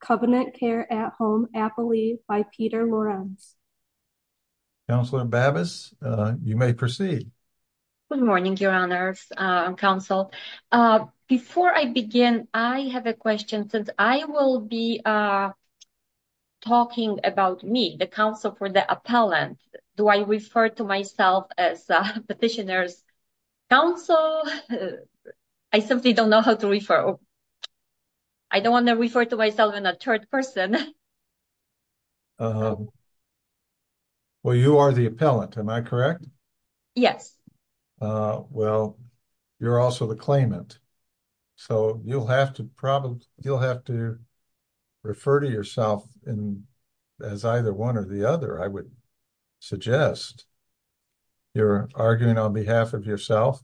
Covenant Care at Home, Appley, by Peter Lorenz. Councilor Bavis, you may proceed. Good morning, Your Honors, Council. Before I begin, I have a question. Since I will be talking about me, the counsel for the appellant, do I refer to myself as petitioner's counsel? I simply don't know how to refer. I don't want to refer to myself in a third person. Well, you are the appellant, am I correct? Yes. Well, you're also the claimant. So you'll have to probably, you'll have to refer to yourself as either one or the other, I would suggest. You're arguing on behalf of yourself?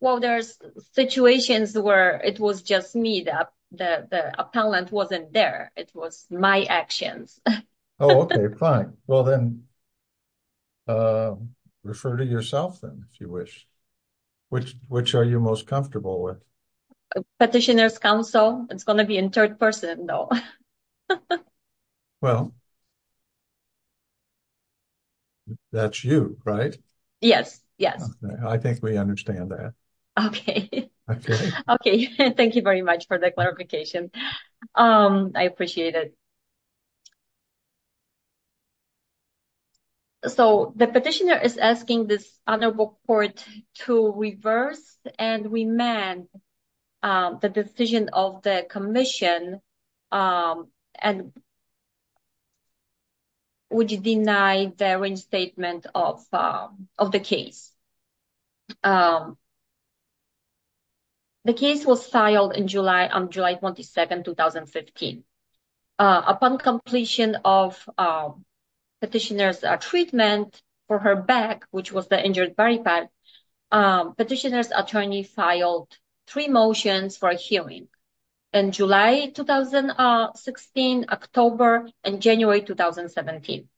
Well, there's situations where it was just me that the appellant wasn't there. It was my actions. Oh, okay, fine. Well then, refer to yourself then, if you wish. Which are you most comfortable with? Petitioner's counsel. It's going to be in third person, though. Well, that's you, right? Yes, yes. I think we understand that. Okay. Okay. Okay. Thank you very much for the clarification. I appreciate it. So the petitioner is asking this Honorable Court to reverse and remand the decision of the Commission and would you deny the reinstatement of the case? The case was filed in July, on July 22nd, 2015. Upon completion of petitioner's treatment for her back, which was the injured body part, petitioner's attorney filed three motions for a hearing in July 2016, October and January 2017.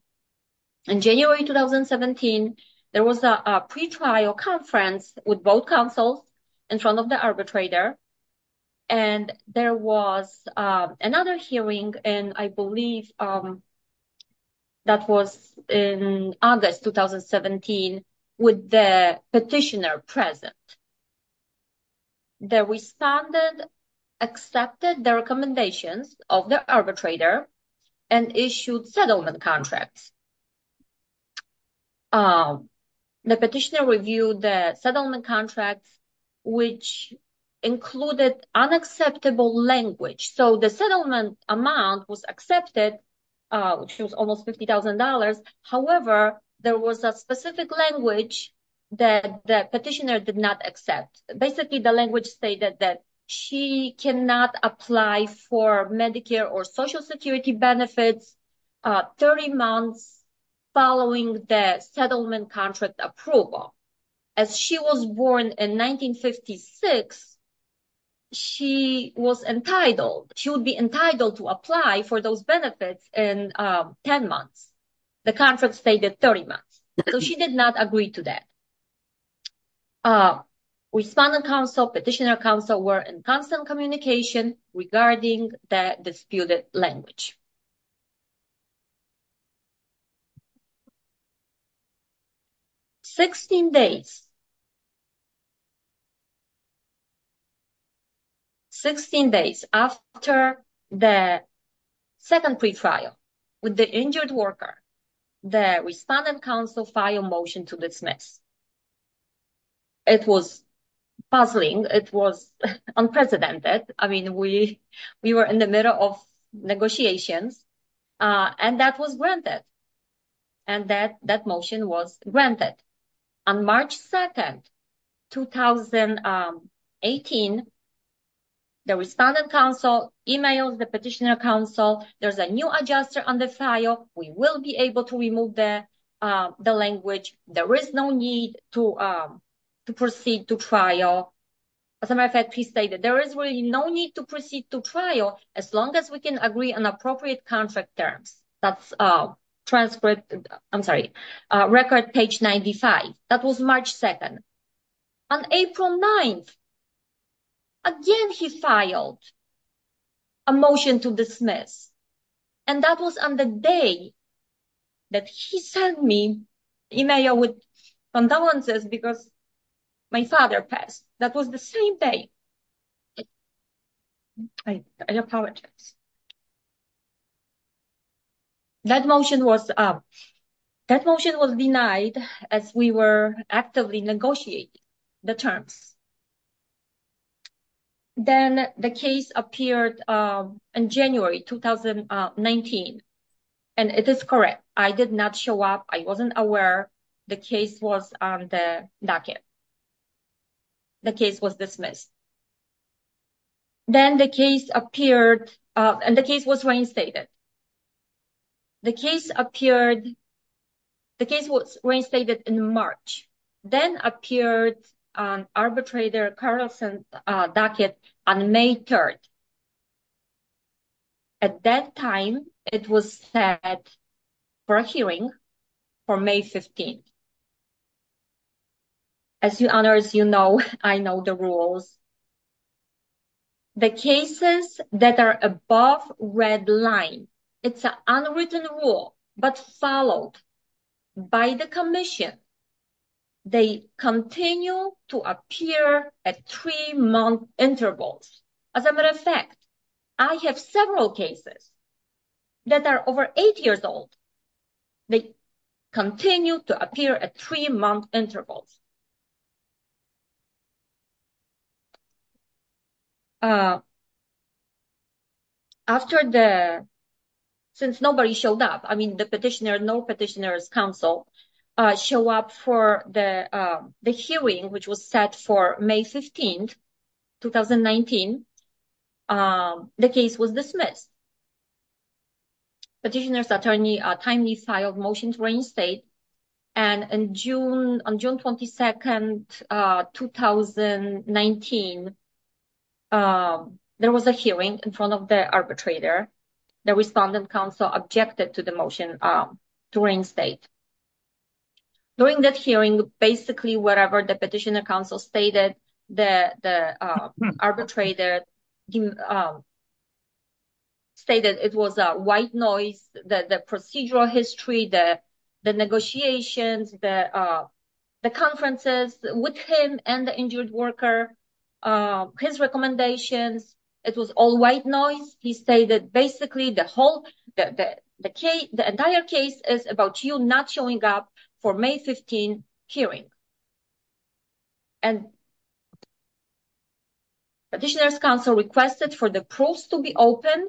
In January 2017, there was a pretrial conference with both counsels in front of the arbitrator. And there was another hearing, and I believe that was in August 2017, with the petitioner present. The respondent accepted the recommendations of the arbitrator and issued settlement contracts. The petitioner reviewed the settlement contracts, which included unacceptable language. So the settlement amount was accepted, which was almost $50,000. However, there was a specific language that the petitioner did not accept. Basically, the language stated that she cannot apply for Medicare or Social Security benefits 30 months following the settlement contract approval. As she was born in 1956, she was entitled, she would be entitled to apply for those benefits in 10 months. The contract stated 30 months, so she did not agree to that. Respondent counsel, petitioner counsel were in constant communication regarding the disputed language. 16 days after the second pretrial with the injured worker, the respondent counsel filed a motion to dismiss. It was puzzling. It was unprecedented. I mean, we were in the middle of negotiations, and that was granted, and that motion was granted. On March 2nd, 2018, the respondent counsel emailed the petitioner counsel, there's a new adjuster on the file, we will be able to remove the language, there is no need to proceed to trial. As a matter of fact, he stated, there is really no need to proceed to trial as long as we can agree on appropriate contract terms. That's transcript, I'm sorry, record page 95. That was March 2nd. On April 9th, again, he filed a motion to dismiss. And that was on the day that he sent me email with condolences because my father passed. That was the same day. I apologize. That motion was denied as we were actively negotiating the terms. Then the case appeared in January 2019. And it is correct. I did not show up. I wasn't aware the case was on the docket. The case was dismissed. Then the case appeared, and the case was reinstated. The case appeared, the case was reinstated in March. Then appeared on arbitrator Carlson docket on May 3rd. At that time, it was set for a hearing for May 15th. As you owners, you know, I know the rules. The cases that are above red line, it's an unwritten rule, but followed by the commission. They continue to appear at three-month intervals. As a matter of fact, I have several cases that are over eight years old. They continue to appear at three-month intervals. After the, since nobody showed up, I mean, the petitioner, no petitioner's counsel show up for the hearing, which was set for May 15th, 2019. The case was dismissed. Petitioner's attorney timely filed motion to reinstate. On June 22nd, 2019, there was a hearing in front of the arbitrator. The respondent counsel objected to the motion to reinstate. During that hearing, basically, whatever the petitioner's counsel stated, the arbitrator stated it was a white noise. The procedural history, the negotiations, the conferences with him and the injured worker, his recommendations, it was all white noise. He stated basically the whole, the entire case is about you not showing up for May 15th hearing. And petitioner's counsel requested for the proofs to be open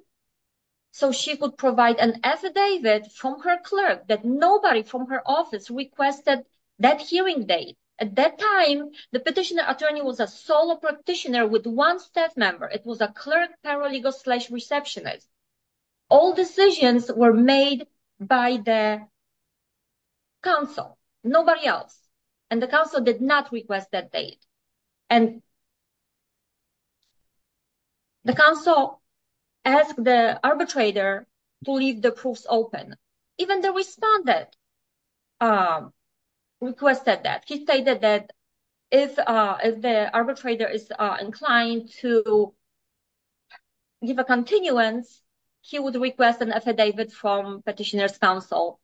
so she could provide an affidavit from her clerk that nobody from her office requested that hearing date. At that time, the petitioner attorney was a solo practitioner with one staff member. It was a clerk paralegal slash receptionist. All decisions were made by the counsel, nobody else. And the counsel did not request that date. And the counsel asked the arbitrator to leave the proofs open. Even the respondent requested that. He stated that if the arbitrator is inclined to give a continuance, he would request an affidavit from petitioner's counsel,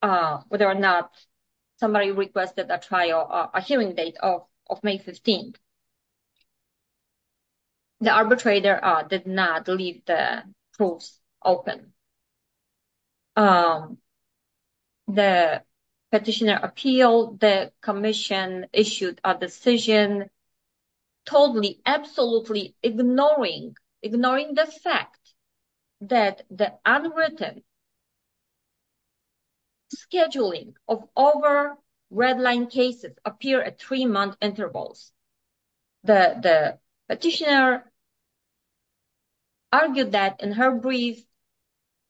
whether or not somebody requested a hearing date of May 15th. The arbitrator did not leave the proofs open. The petitioner appealed. The commission issued a decision totally, absolutely ignoring, ignoring the fact that the unwritten scheduling of over redline cases appear at three-month intervals. The petitioner argued that in her brief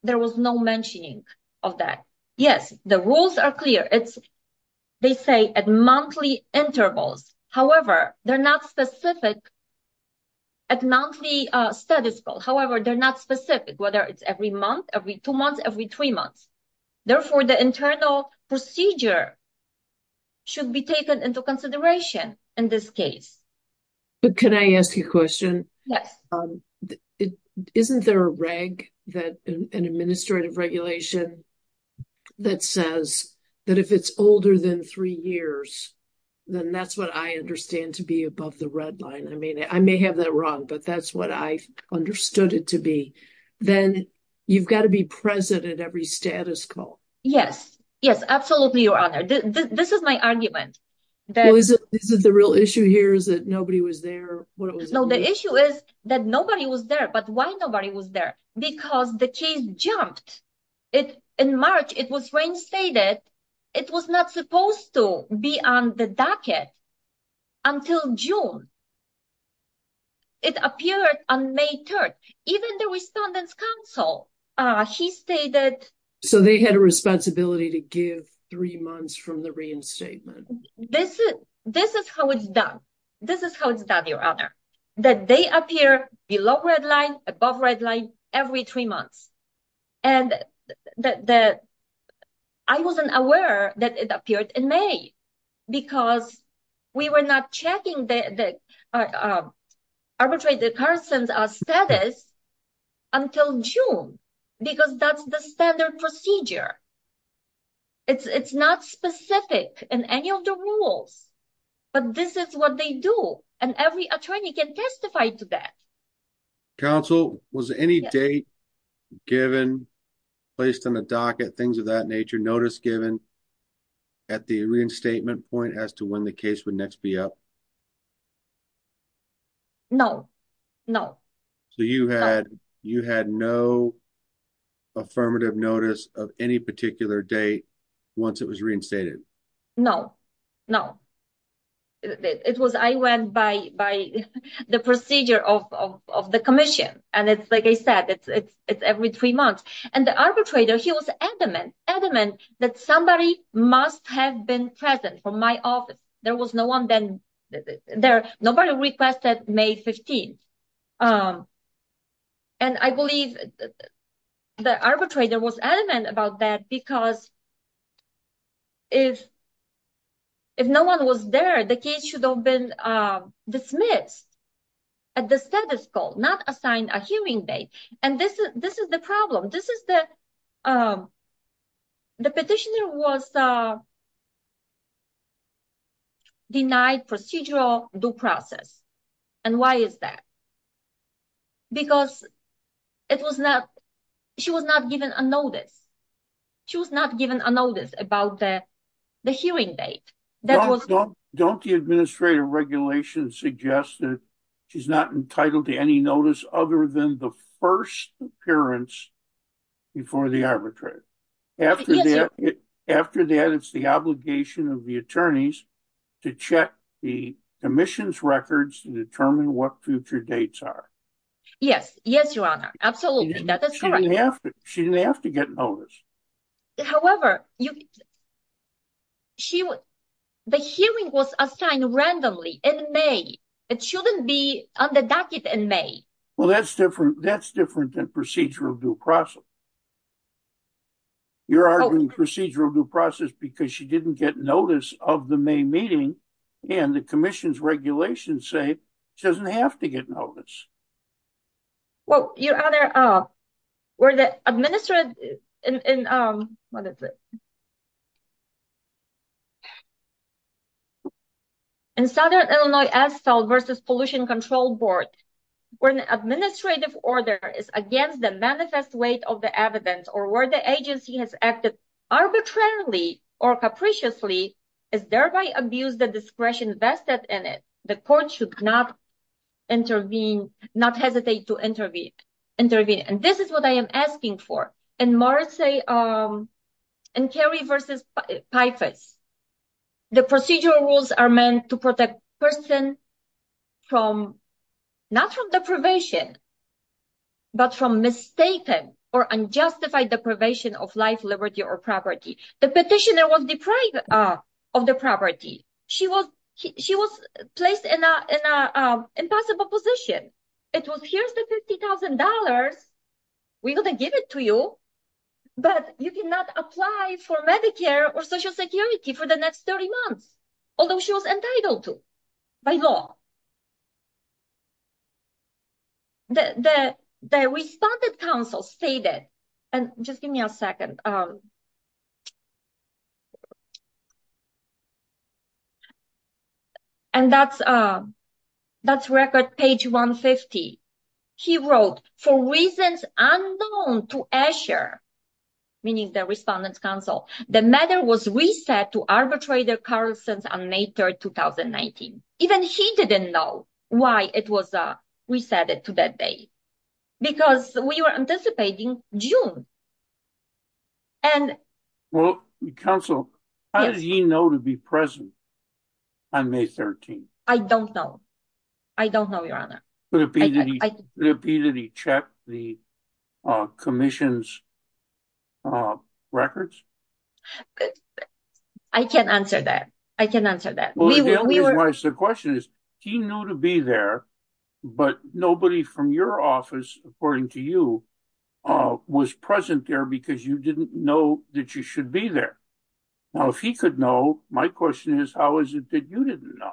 there was no mentioning of that. Yes, the rules are clear. They say at monthly intervals. However, they're not specific at monthly status quo. However, they're not specific whether it's every month, every two months, every three months. Therefore, the internal procedure should be taken into consideration in this case. But can I ask you a question? Yes. Isn't there a reg that an administrative regulation that says that if it's older than three years, then that's what I understand to be above the redline. I mean, I may have that wrong, but that's what I understood it to be. Then you've got to be present at every status quo. Yes. Yes, absolutely, Your Honor. This is my argument. Is it the real issue here is that nobody was there? No, the issue is that nobody was there. But why nobody was there? Because the case jumped. In March, it was reinstated. It was not supposed to be on the docket until June. It appeared on May 3rd. Even the respondent's counsel, he stated- So they had a responsibility to give three months from the reinstatement. This is how it's done. This is how it's done, Your Honor, that they appear below redline, above redline every three months. I wasn't aware that it appeared in May because we were not checking the arbitrated persons' status until June because that's the standard procedure. It's not specific in any of the rules, but this is what they do, and every attorney can testify to that. Counsel, was any date given, placed on the docket, things of that nature, notice given at the reinstatement point as to when the case would next be up? No. No. So you had no affirmative notice of any particular date once it was reinstated? No. No. I went by the procedure of the commission, and it's like I said, it's every three months. And the arbitrator, he was adamant, adamant that somebody must have been present from my office. There was no one then- Nobody requested May 15th. And I believe the arbitrator was adamant about that because if no one was there, the case should have been dismissed at the status quo, not assigned a hearing date. And this is the problem. The petitioner was denied procedural due process, and why is that? Because she was not given a notice. She was not given a notice about the hearing date. Don't the administrative regulations suggest that she's not entitled to any notice other than the first appearance before the arbitrator? After that, it's the obligation of the attorneys to check the commission's records to determine what future dates are. Yes. Yes, Your Honor. Absolutely. She didn't have to get notice. However, the hearing was assigned randomly in May. It shouldn't be on the docket in May. Well, that's different. That's different than procedural due process. You're arguing procedural due process because she didn't get notice of the May meeting, and the commission's regulations say she doesn't have to get notice. Well, Your Honor, in Southern Illinois Asphalt v. Pollution Control Board, when the administrative order is against the manifest weight of the evidence or where the agency has acted arbitrarily or capriciously, as thereby abused the discretion vested in it, the court should not intervene, not hesitate to intervene. And this is what I am asking for. In Morrissey and Carey v. Pifus, the procedural rules are meant to protect person from, not from deprivation, but from mistaken or unjustified deprivation of life, liberty, or property. The petitioner was deprived of the property. She was placed in an impossible position. It was, here's the $50,000. We're going to give it to you. But you cannot apply for Medicare or Social Security for the next 30 months, although she was entitled to by law. The Respondent's Council stated, and just give me a second, and that's record page 150. He wrote, for reasons unknown to ASHA, meaning the Respondent's Council, the matter was reset to arbitrator's currents on May 3rd, 2019. Even he didn't know why it was reset to that date, because we were anticipating June. Well, Counsel, how did he know to be present on May 13th? I don't know. I don't know, Your Honor. Could it be that he checked the Commission's records? I can't answer that. I can't answer that. The question is, he knew to be there, but nobody from your office, according to you, was present there because you didn't know that you should be there. Now, if he could know, my question is, how is it that you didn't know?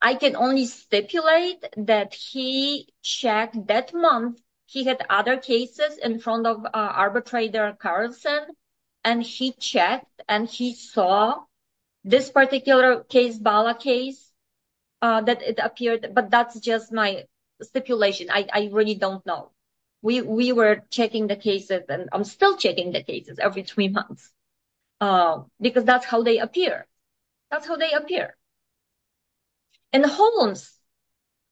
I can only stipulate that he checked that month. He had other cases in front of arbitrator Carlson, and he checked and he saw this particular case, Bala case, that it appeared. But that's just my stipulation. I really don't know. We were checking the cases, and I'm still checking the cases every three months, because that's how they appear. That's how they appear. In Holland,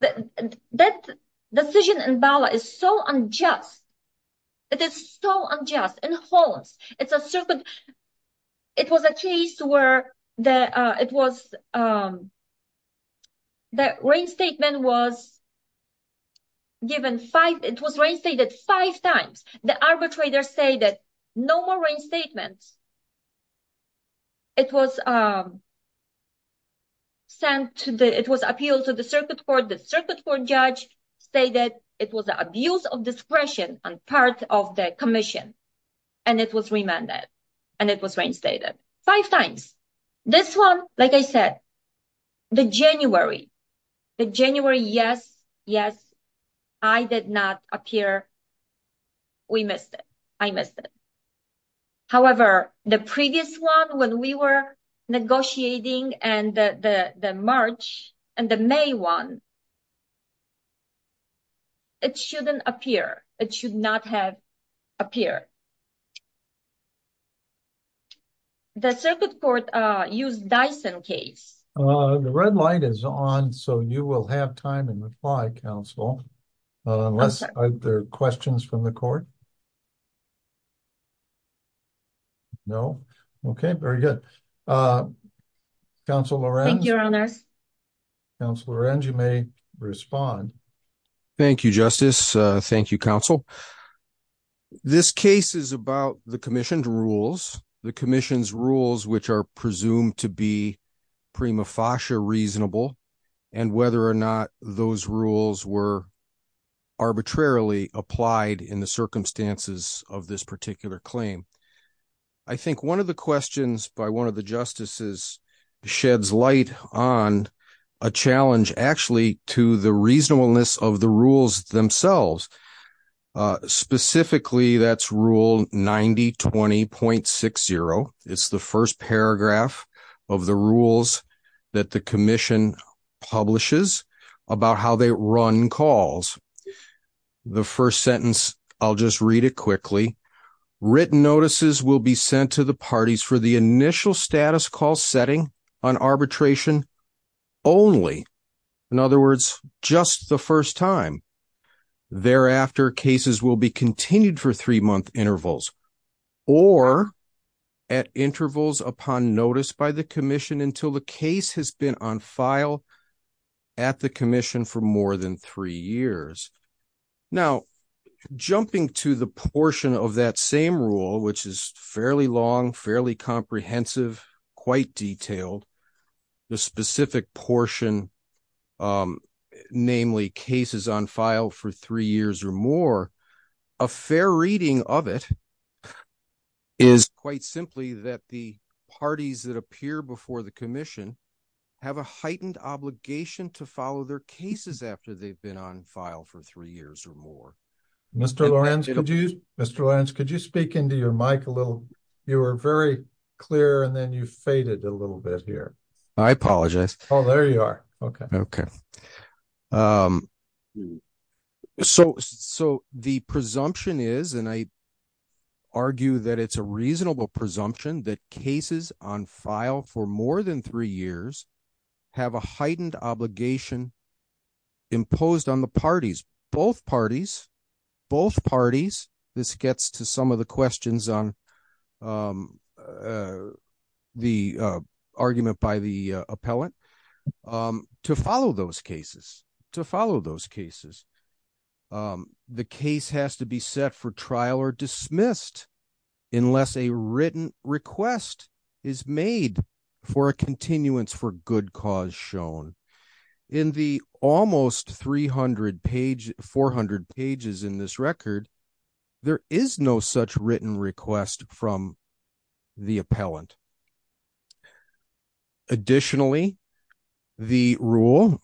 that decision in Bala is so unjust. It is so unjust. In Holland, it was a case where the reinstatement was given five times. The arbitrators say that no more reinstatements. It was appealed to the circuit court. The circuit court judge stated it was an abuse of discretion on part of the Commission, and it was remanded, and it was reinstated five times. This one, like I said, the January, the January, yes, yes, I did not appear. We missed it. I missed it. However, the previous one when we were negotiating and the March and the May one, it shouldn't appear. It should not have appeared. The circuit court used Dyson case. The red light is on, so you will have time and apply, counsel. Unless there are questions from the court. No. Okay, very good. Thank you, Your Honor. Counselor, and you may respond. Thank you, Justice. Thank you, counsel. This case is about the Commission's rules. The Commission's rules, which are presumed to be prima facie reasonable, and whether or not those rules were arbitrarily applied in the circumstances of this particular claim. I think one of the questions by one of the justices sheds light on a challenge actually to the reasonableness of the rules themselves. Specifically, that's Rule 9020.60. It's the first paragraph of the rules that the Commission publishes about how they run calls. The first sentence, I'll just read it quickly. Written notices will be sent to the parties for the initial status call setting on arbitration only. In other words, just the first time. Thereafter, cases will be continued for three-month intervals or at intervals upon notice by the Commission until the case has been on file at the Commission for more than three years. Now, jumping to the portion of that same rule, which is fairly long, fairly comprehensive, quite detailed, the specific portion, namely cases on file for three years or more, a fair reading of it is quite simply that the parties that appear before the Commission have a heightened obligation to follow their cases after they've been on file for three years or more. Mr. Lorenz, could you speak into your mic a little? You were very clear, and then you faded a little bit here. I apologize. Oh, there you are. Okay. So the presumption is, and I argue that it's a reasonable presumption, that cases on file for more than three years have a heightened obligation imposed on the parties, both parties, both parties. This gets to some of the questions on the argument by the appellant. To follow those cases, to follow those cases, the case has to be set for trial or dismissed unless a written request is made for a continuance for good cause shown. In the almost 400 pages in this record, there is no such written request from the appellant. Additionally, the rule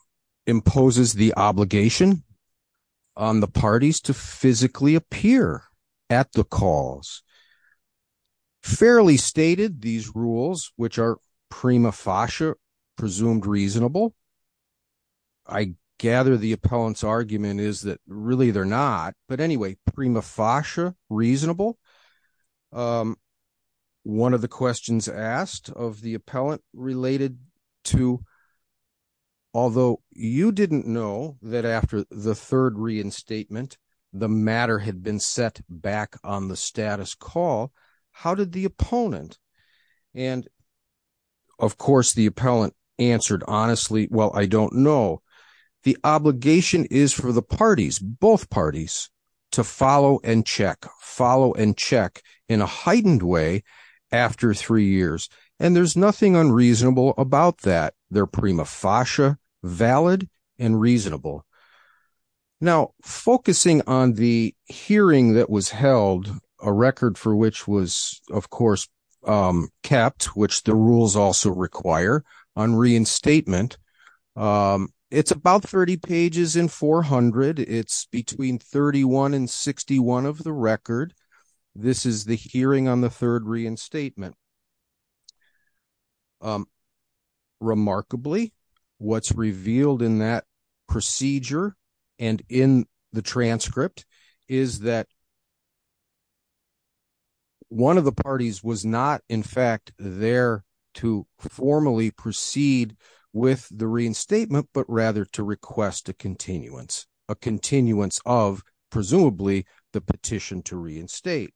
imposes the obligation on the parties to physically appear at the calls. Fairly stated, these rules, which are prima facie presumed reasonable, I gather the appellant's argument is that really they're not. But anyway, prima facie reasonable. One of the questions asked of the appellant related to, although you didn't know that after the third reinstatement, the matter had been set back on the status call, how did the opponent, and of course, the appellant answered honestly, well, I don't know. The obligation is for the parties, both parties, to follow and check, follow and check in a heightened way after three years. And there's nothing unreasonable about that. They're prima facie valid and reasonable. Now, focusing on the hearing that was held, a record for which was, of course, kept, which the rules also require, on reinstatement, it's about 30 pages in 400. It's between 31 and 61 of the record. This is the hearing on the third reinstatement. Remarkably, what's revealed in that procedure and in the transcript is that one of the parties was not, in fact, there to formally proceed with the reinstatement, but rather to request a continuance, a continuance of, presumably, the petition to reinstate.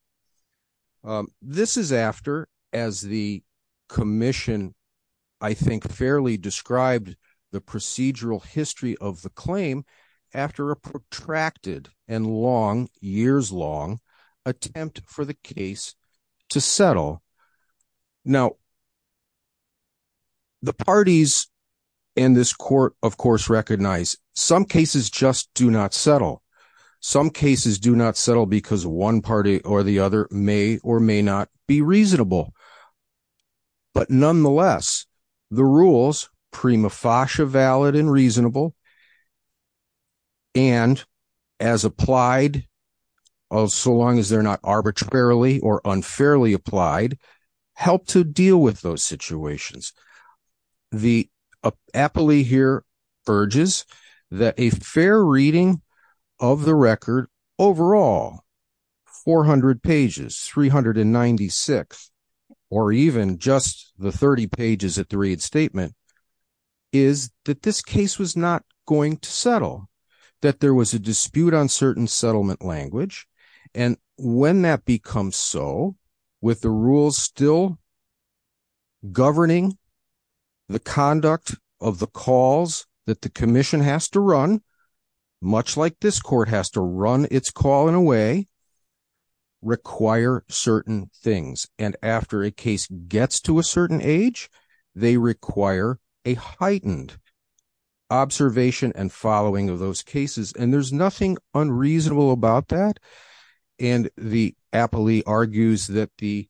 This is after, as the commission, I think, fairly described the procedural history of the claim, after a protracted and long, years long, attempt for the case to settle. Now, the parties in this court, of course, recognize some cases just do not settle. Some cases do not settle because one party or the other may or may not be reasonable. But nonetheless, the rules, prima facie valid and reasonable, and as applied, so long as they're not arbitrarily or unfairly applied, help to deal with those situations. The appellee here urges that a fair reading of the record overall, 400 pages, 396, or even just the 30 pages at the reinstatement, is that this case was not going to settle. That there was a dispute on certain settlement language, and when that becomes so, with the rules still governing the conduct of the calls that the commission has to run, much like this court has to run its call in a way, require certain things. And after a case gets to a certain age, they require a heightened observation and following of those cases. And there's nothing unreasonable about that. And the appellee argues that the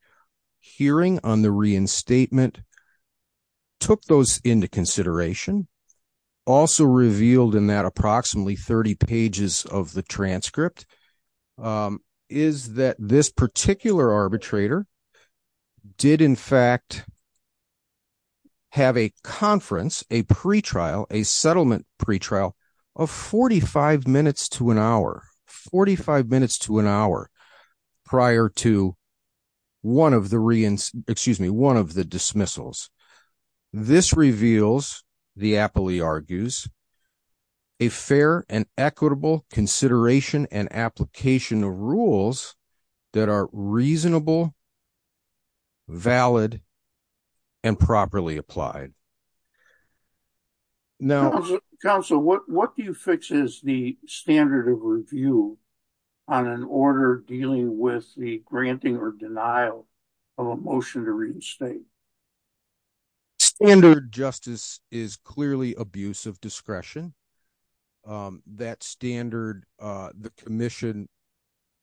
hearing on the reinstatement took those into consideration, also revealed in that approximately 30 pages of the transcript, is that this particular arbitrator did, in fact, have a conference, a pretrial, a settlement pretrial of 45 minutes to an hour. 45 minutes to an hour prior to one of the, excuse me, one of the dismissals. This reveals, the appellee argues, a fair and equitable consideration and application of rules that are reasonable, valid, and properly applied. Counsel, what do you fix is the standard of review on an order dealing with the granting or denial of a motion to reinstate? Standard justice is clearly abuse of discretion. That standard, the commission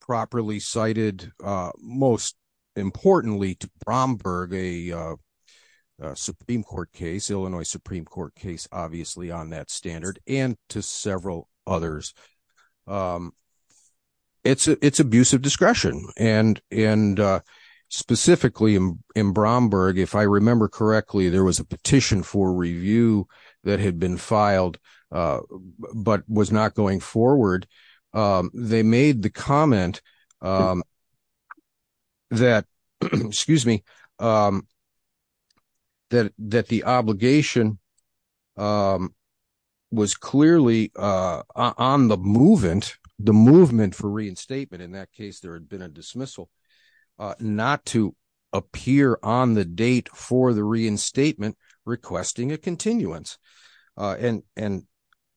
properly cited, most importantly, to Bromberg, a Supreme Court case, Illinois Supreme Court case, obviously, on that standard and to several others. It's abuse of discretion. And specifically in Bromberg, if I remember correctly, there was a petition for review that had been filed but was not going forward. They made the comment that, excuse me, that the obligation was clearly on the movement, the movement for reinstatement, in that case, there had been a dismissal, not to appear on the date for the reinstatement requesting a continuance. And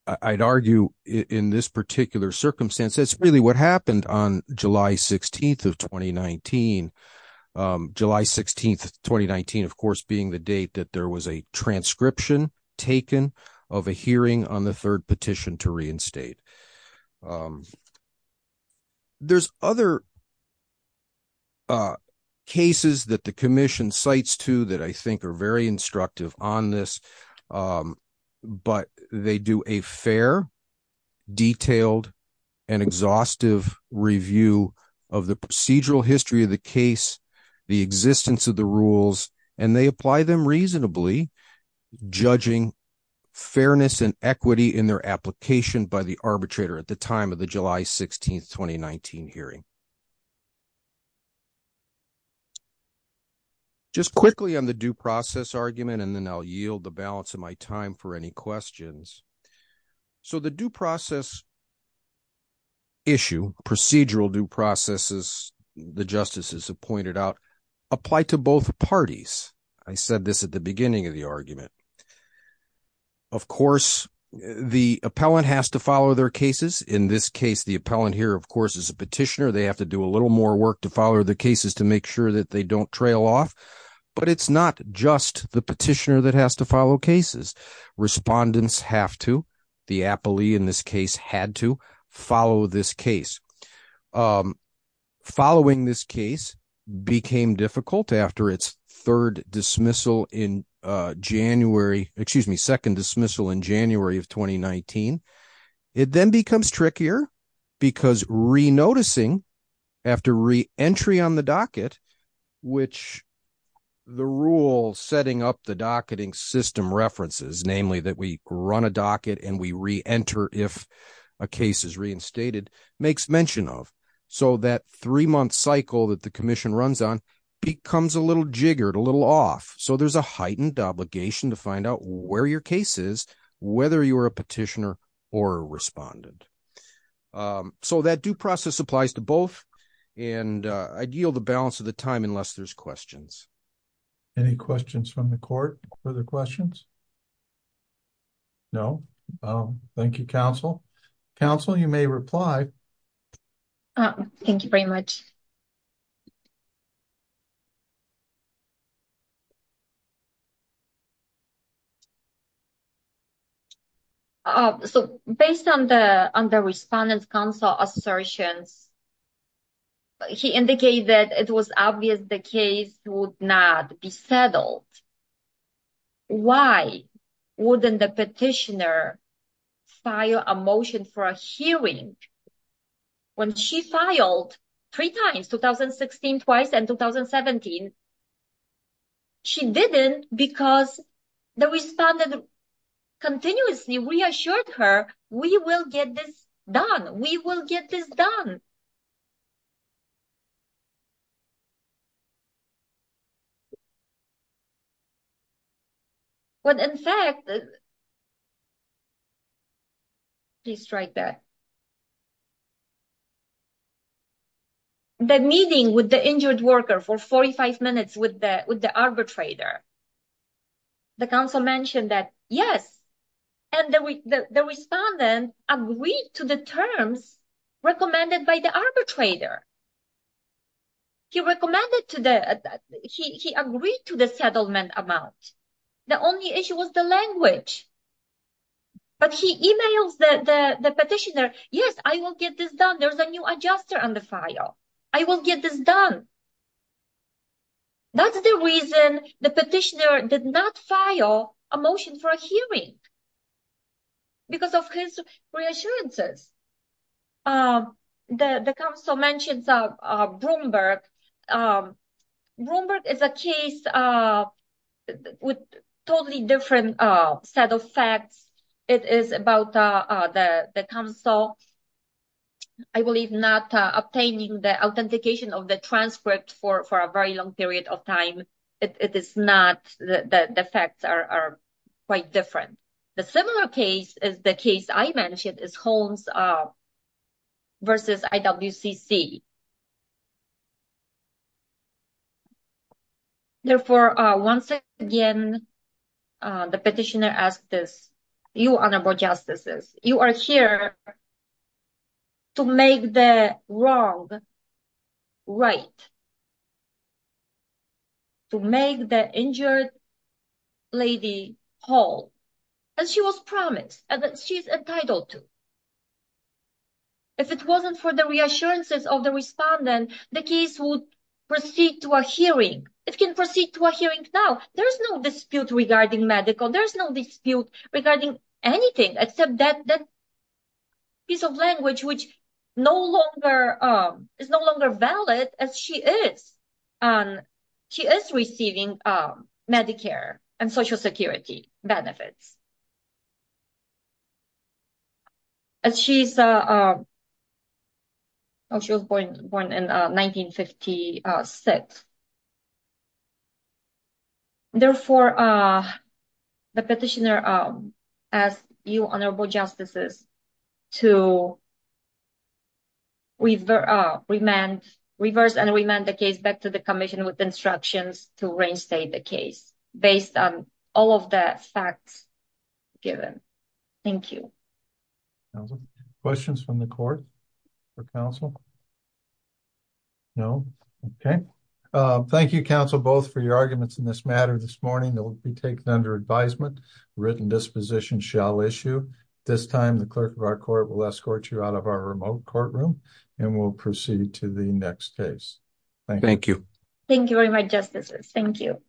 I'd argue in this particular circumstance, that's really what happened on July 16th of 2019. July 16th, 2019, of course, being the date that there was a transcription taken of a hearing on the third petition to reinstate. There's other cases that the commission cites, too, that I think are very instructive on this. But they do a fair, detailed, and exhaustive review of the procedural history of the case, the existence of the rules, and they apply them reasonably, judging fairness and equity in their application by the arbitrator at the time of the July 16th, 2019 hearing. Just quickly on the due process argument, and then I'll yield the balance of my time for any questions. So the due process issue, procedural due processes, the justices have pointed out, apply to both parties. I said this at the beginning of the argument. Of course, the appellant has to follow their cases. In this case, the appellant here, of course, is a petitioner. They have to do a little more work to follow the cases to make sure that they don't trail off. But it's not just the petitioner that has to follow cases. Respondents have to. The appellee in this case had to follow this case. Following this case became difficult after its third dismissal in January, excuse me, second dismissal in January of 2019. It then becomes trickier because re-noticing after re-entry on the docket, which the rule setting up the docketing system references, namely that we run a docket and we re-enter if a case is reinstated, makes mention of. So that three-month cycle that the commission runs on becomes a little jiggered, a little off. So there's a heightened obligation to find out where your case is, whether you're a petitioner or a respondent. So that due process applies to both. And I'd yield the balance of the time unless there's questions. Any questions from the court? Further questions? No. Thank you, counsel. Counsel, you may reply. Thank you very much. So based on the respondents' counsel assertions, he indicated it was obvious the case would not be settled. Why wouldn't the petitioner file a motion for a hearing when she filed three times, 2016 twice and 2017? She didn't because the respondent continuously reassured her, we will get this done. We will get this done. But in fact... Please strike that. The meeting with the injured worker for 45 minutes with the arbitrator, the counsel mentioned that, yes. And the respondent agreed to the terms recommended by the arbitrator. He recommended to the... He agreed to the settlement amount. The only issue was the language. But he emails the petitioner, yes, I will get this done. There's a new adjuster on the file. I will get this done. That's the reason the petitioner did not file a motion for a hearing. Because of his reassurances. The counsel mentions Broomberg. Broomberg is a case with totally different set of facts. It is about the counsel, I believe, not obtaining the authentication of the transcript for a very long period of time. It is not the facts are quite different. The similar case is the case I mentioned is Holmes versus IWCC. Therefore, once again, the petitioner asked this. You, Honorable Justices, you are here to make the wrong right. To make the injured lady whole. And she was promised. And she's entitled to. If it wasn't for the reassurances of the respondent, the case would proceed to a hearing. It can proceed to a hearing now. There's no dispute regarding medical. There's no dispute regarding anything except that piece of language which is no longer valid as she is. She is receiving Medicare and Social Security benefits. And she's. She was born in 1956. Therefore, the petitioner asked you, Honorable Justices, to. We've remanded reverse and remand the case back to the commission with instructions to reinstate the case based on all of the facts given. Thank you. Questions from the court or counsel. No, okay. Thank you counsel both for your arguments in this matter this morning that will be taken under advisement written disposition shall issue. This time the clerk of our court will escort you out of our remote courtroom, and we'll proceed to the next case. Thank you. Thank you very much. Justices. Thank you. Thank you.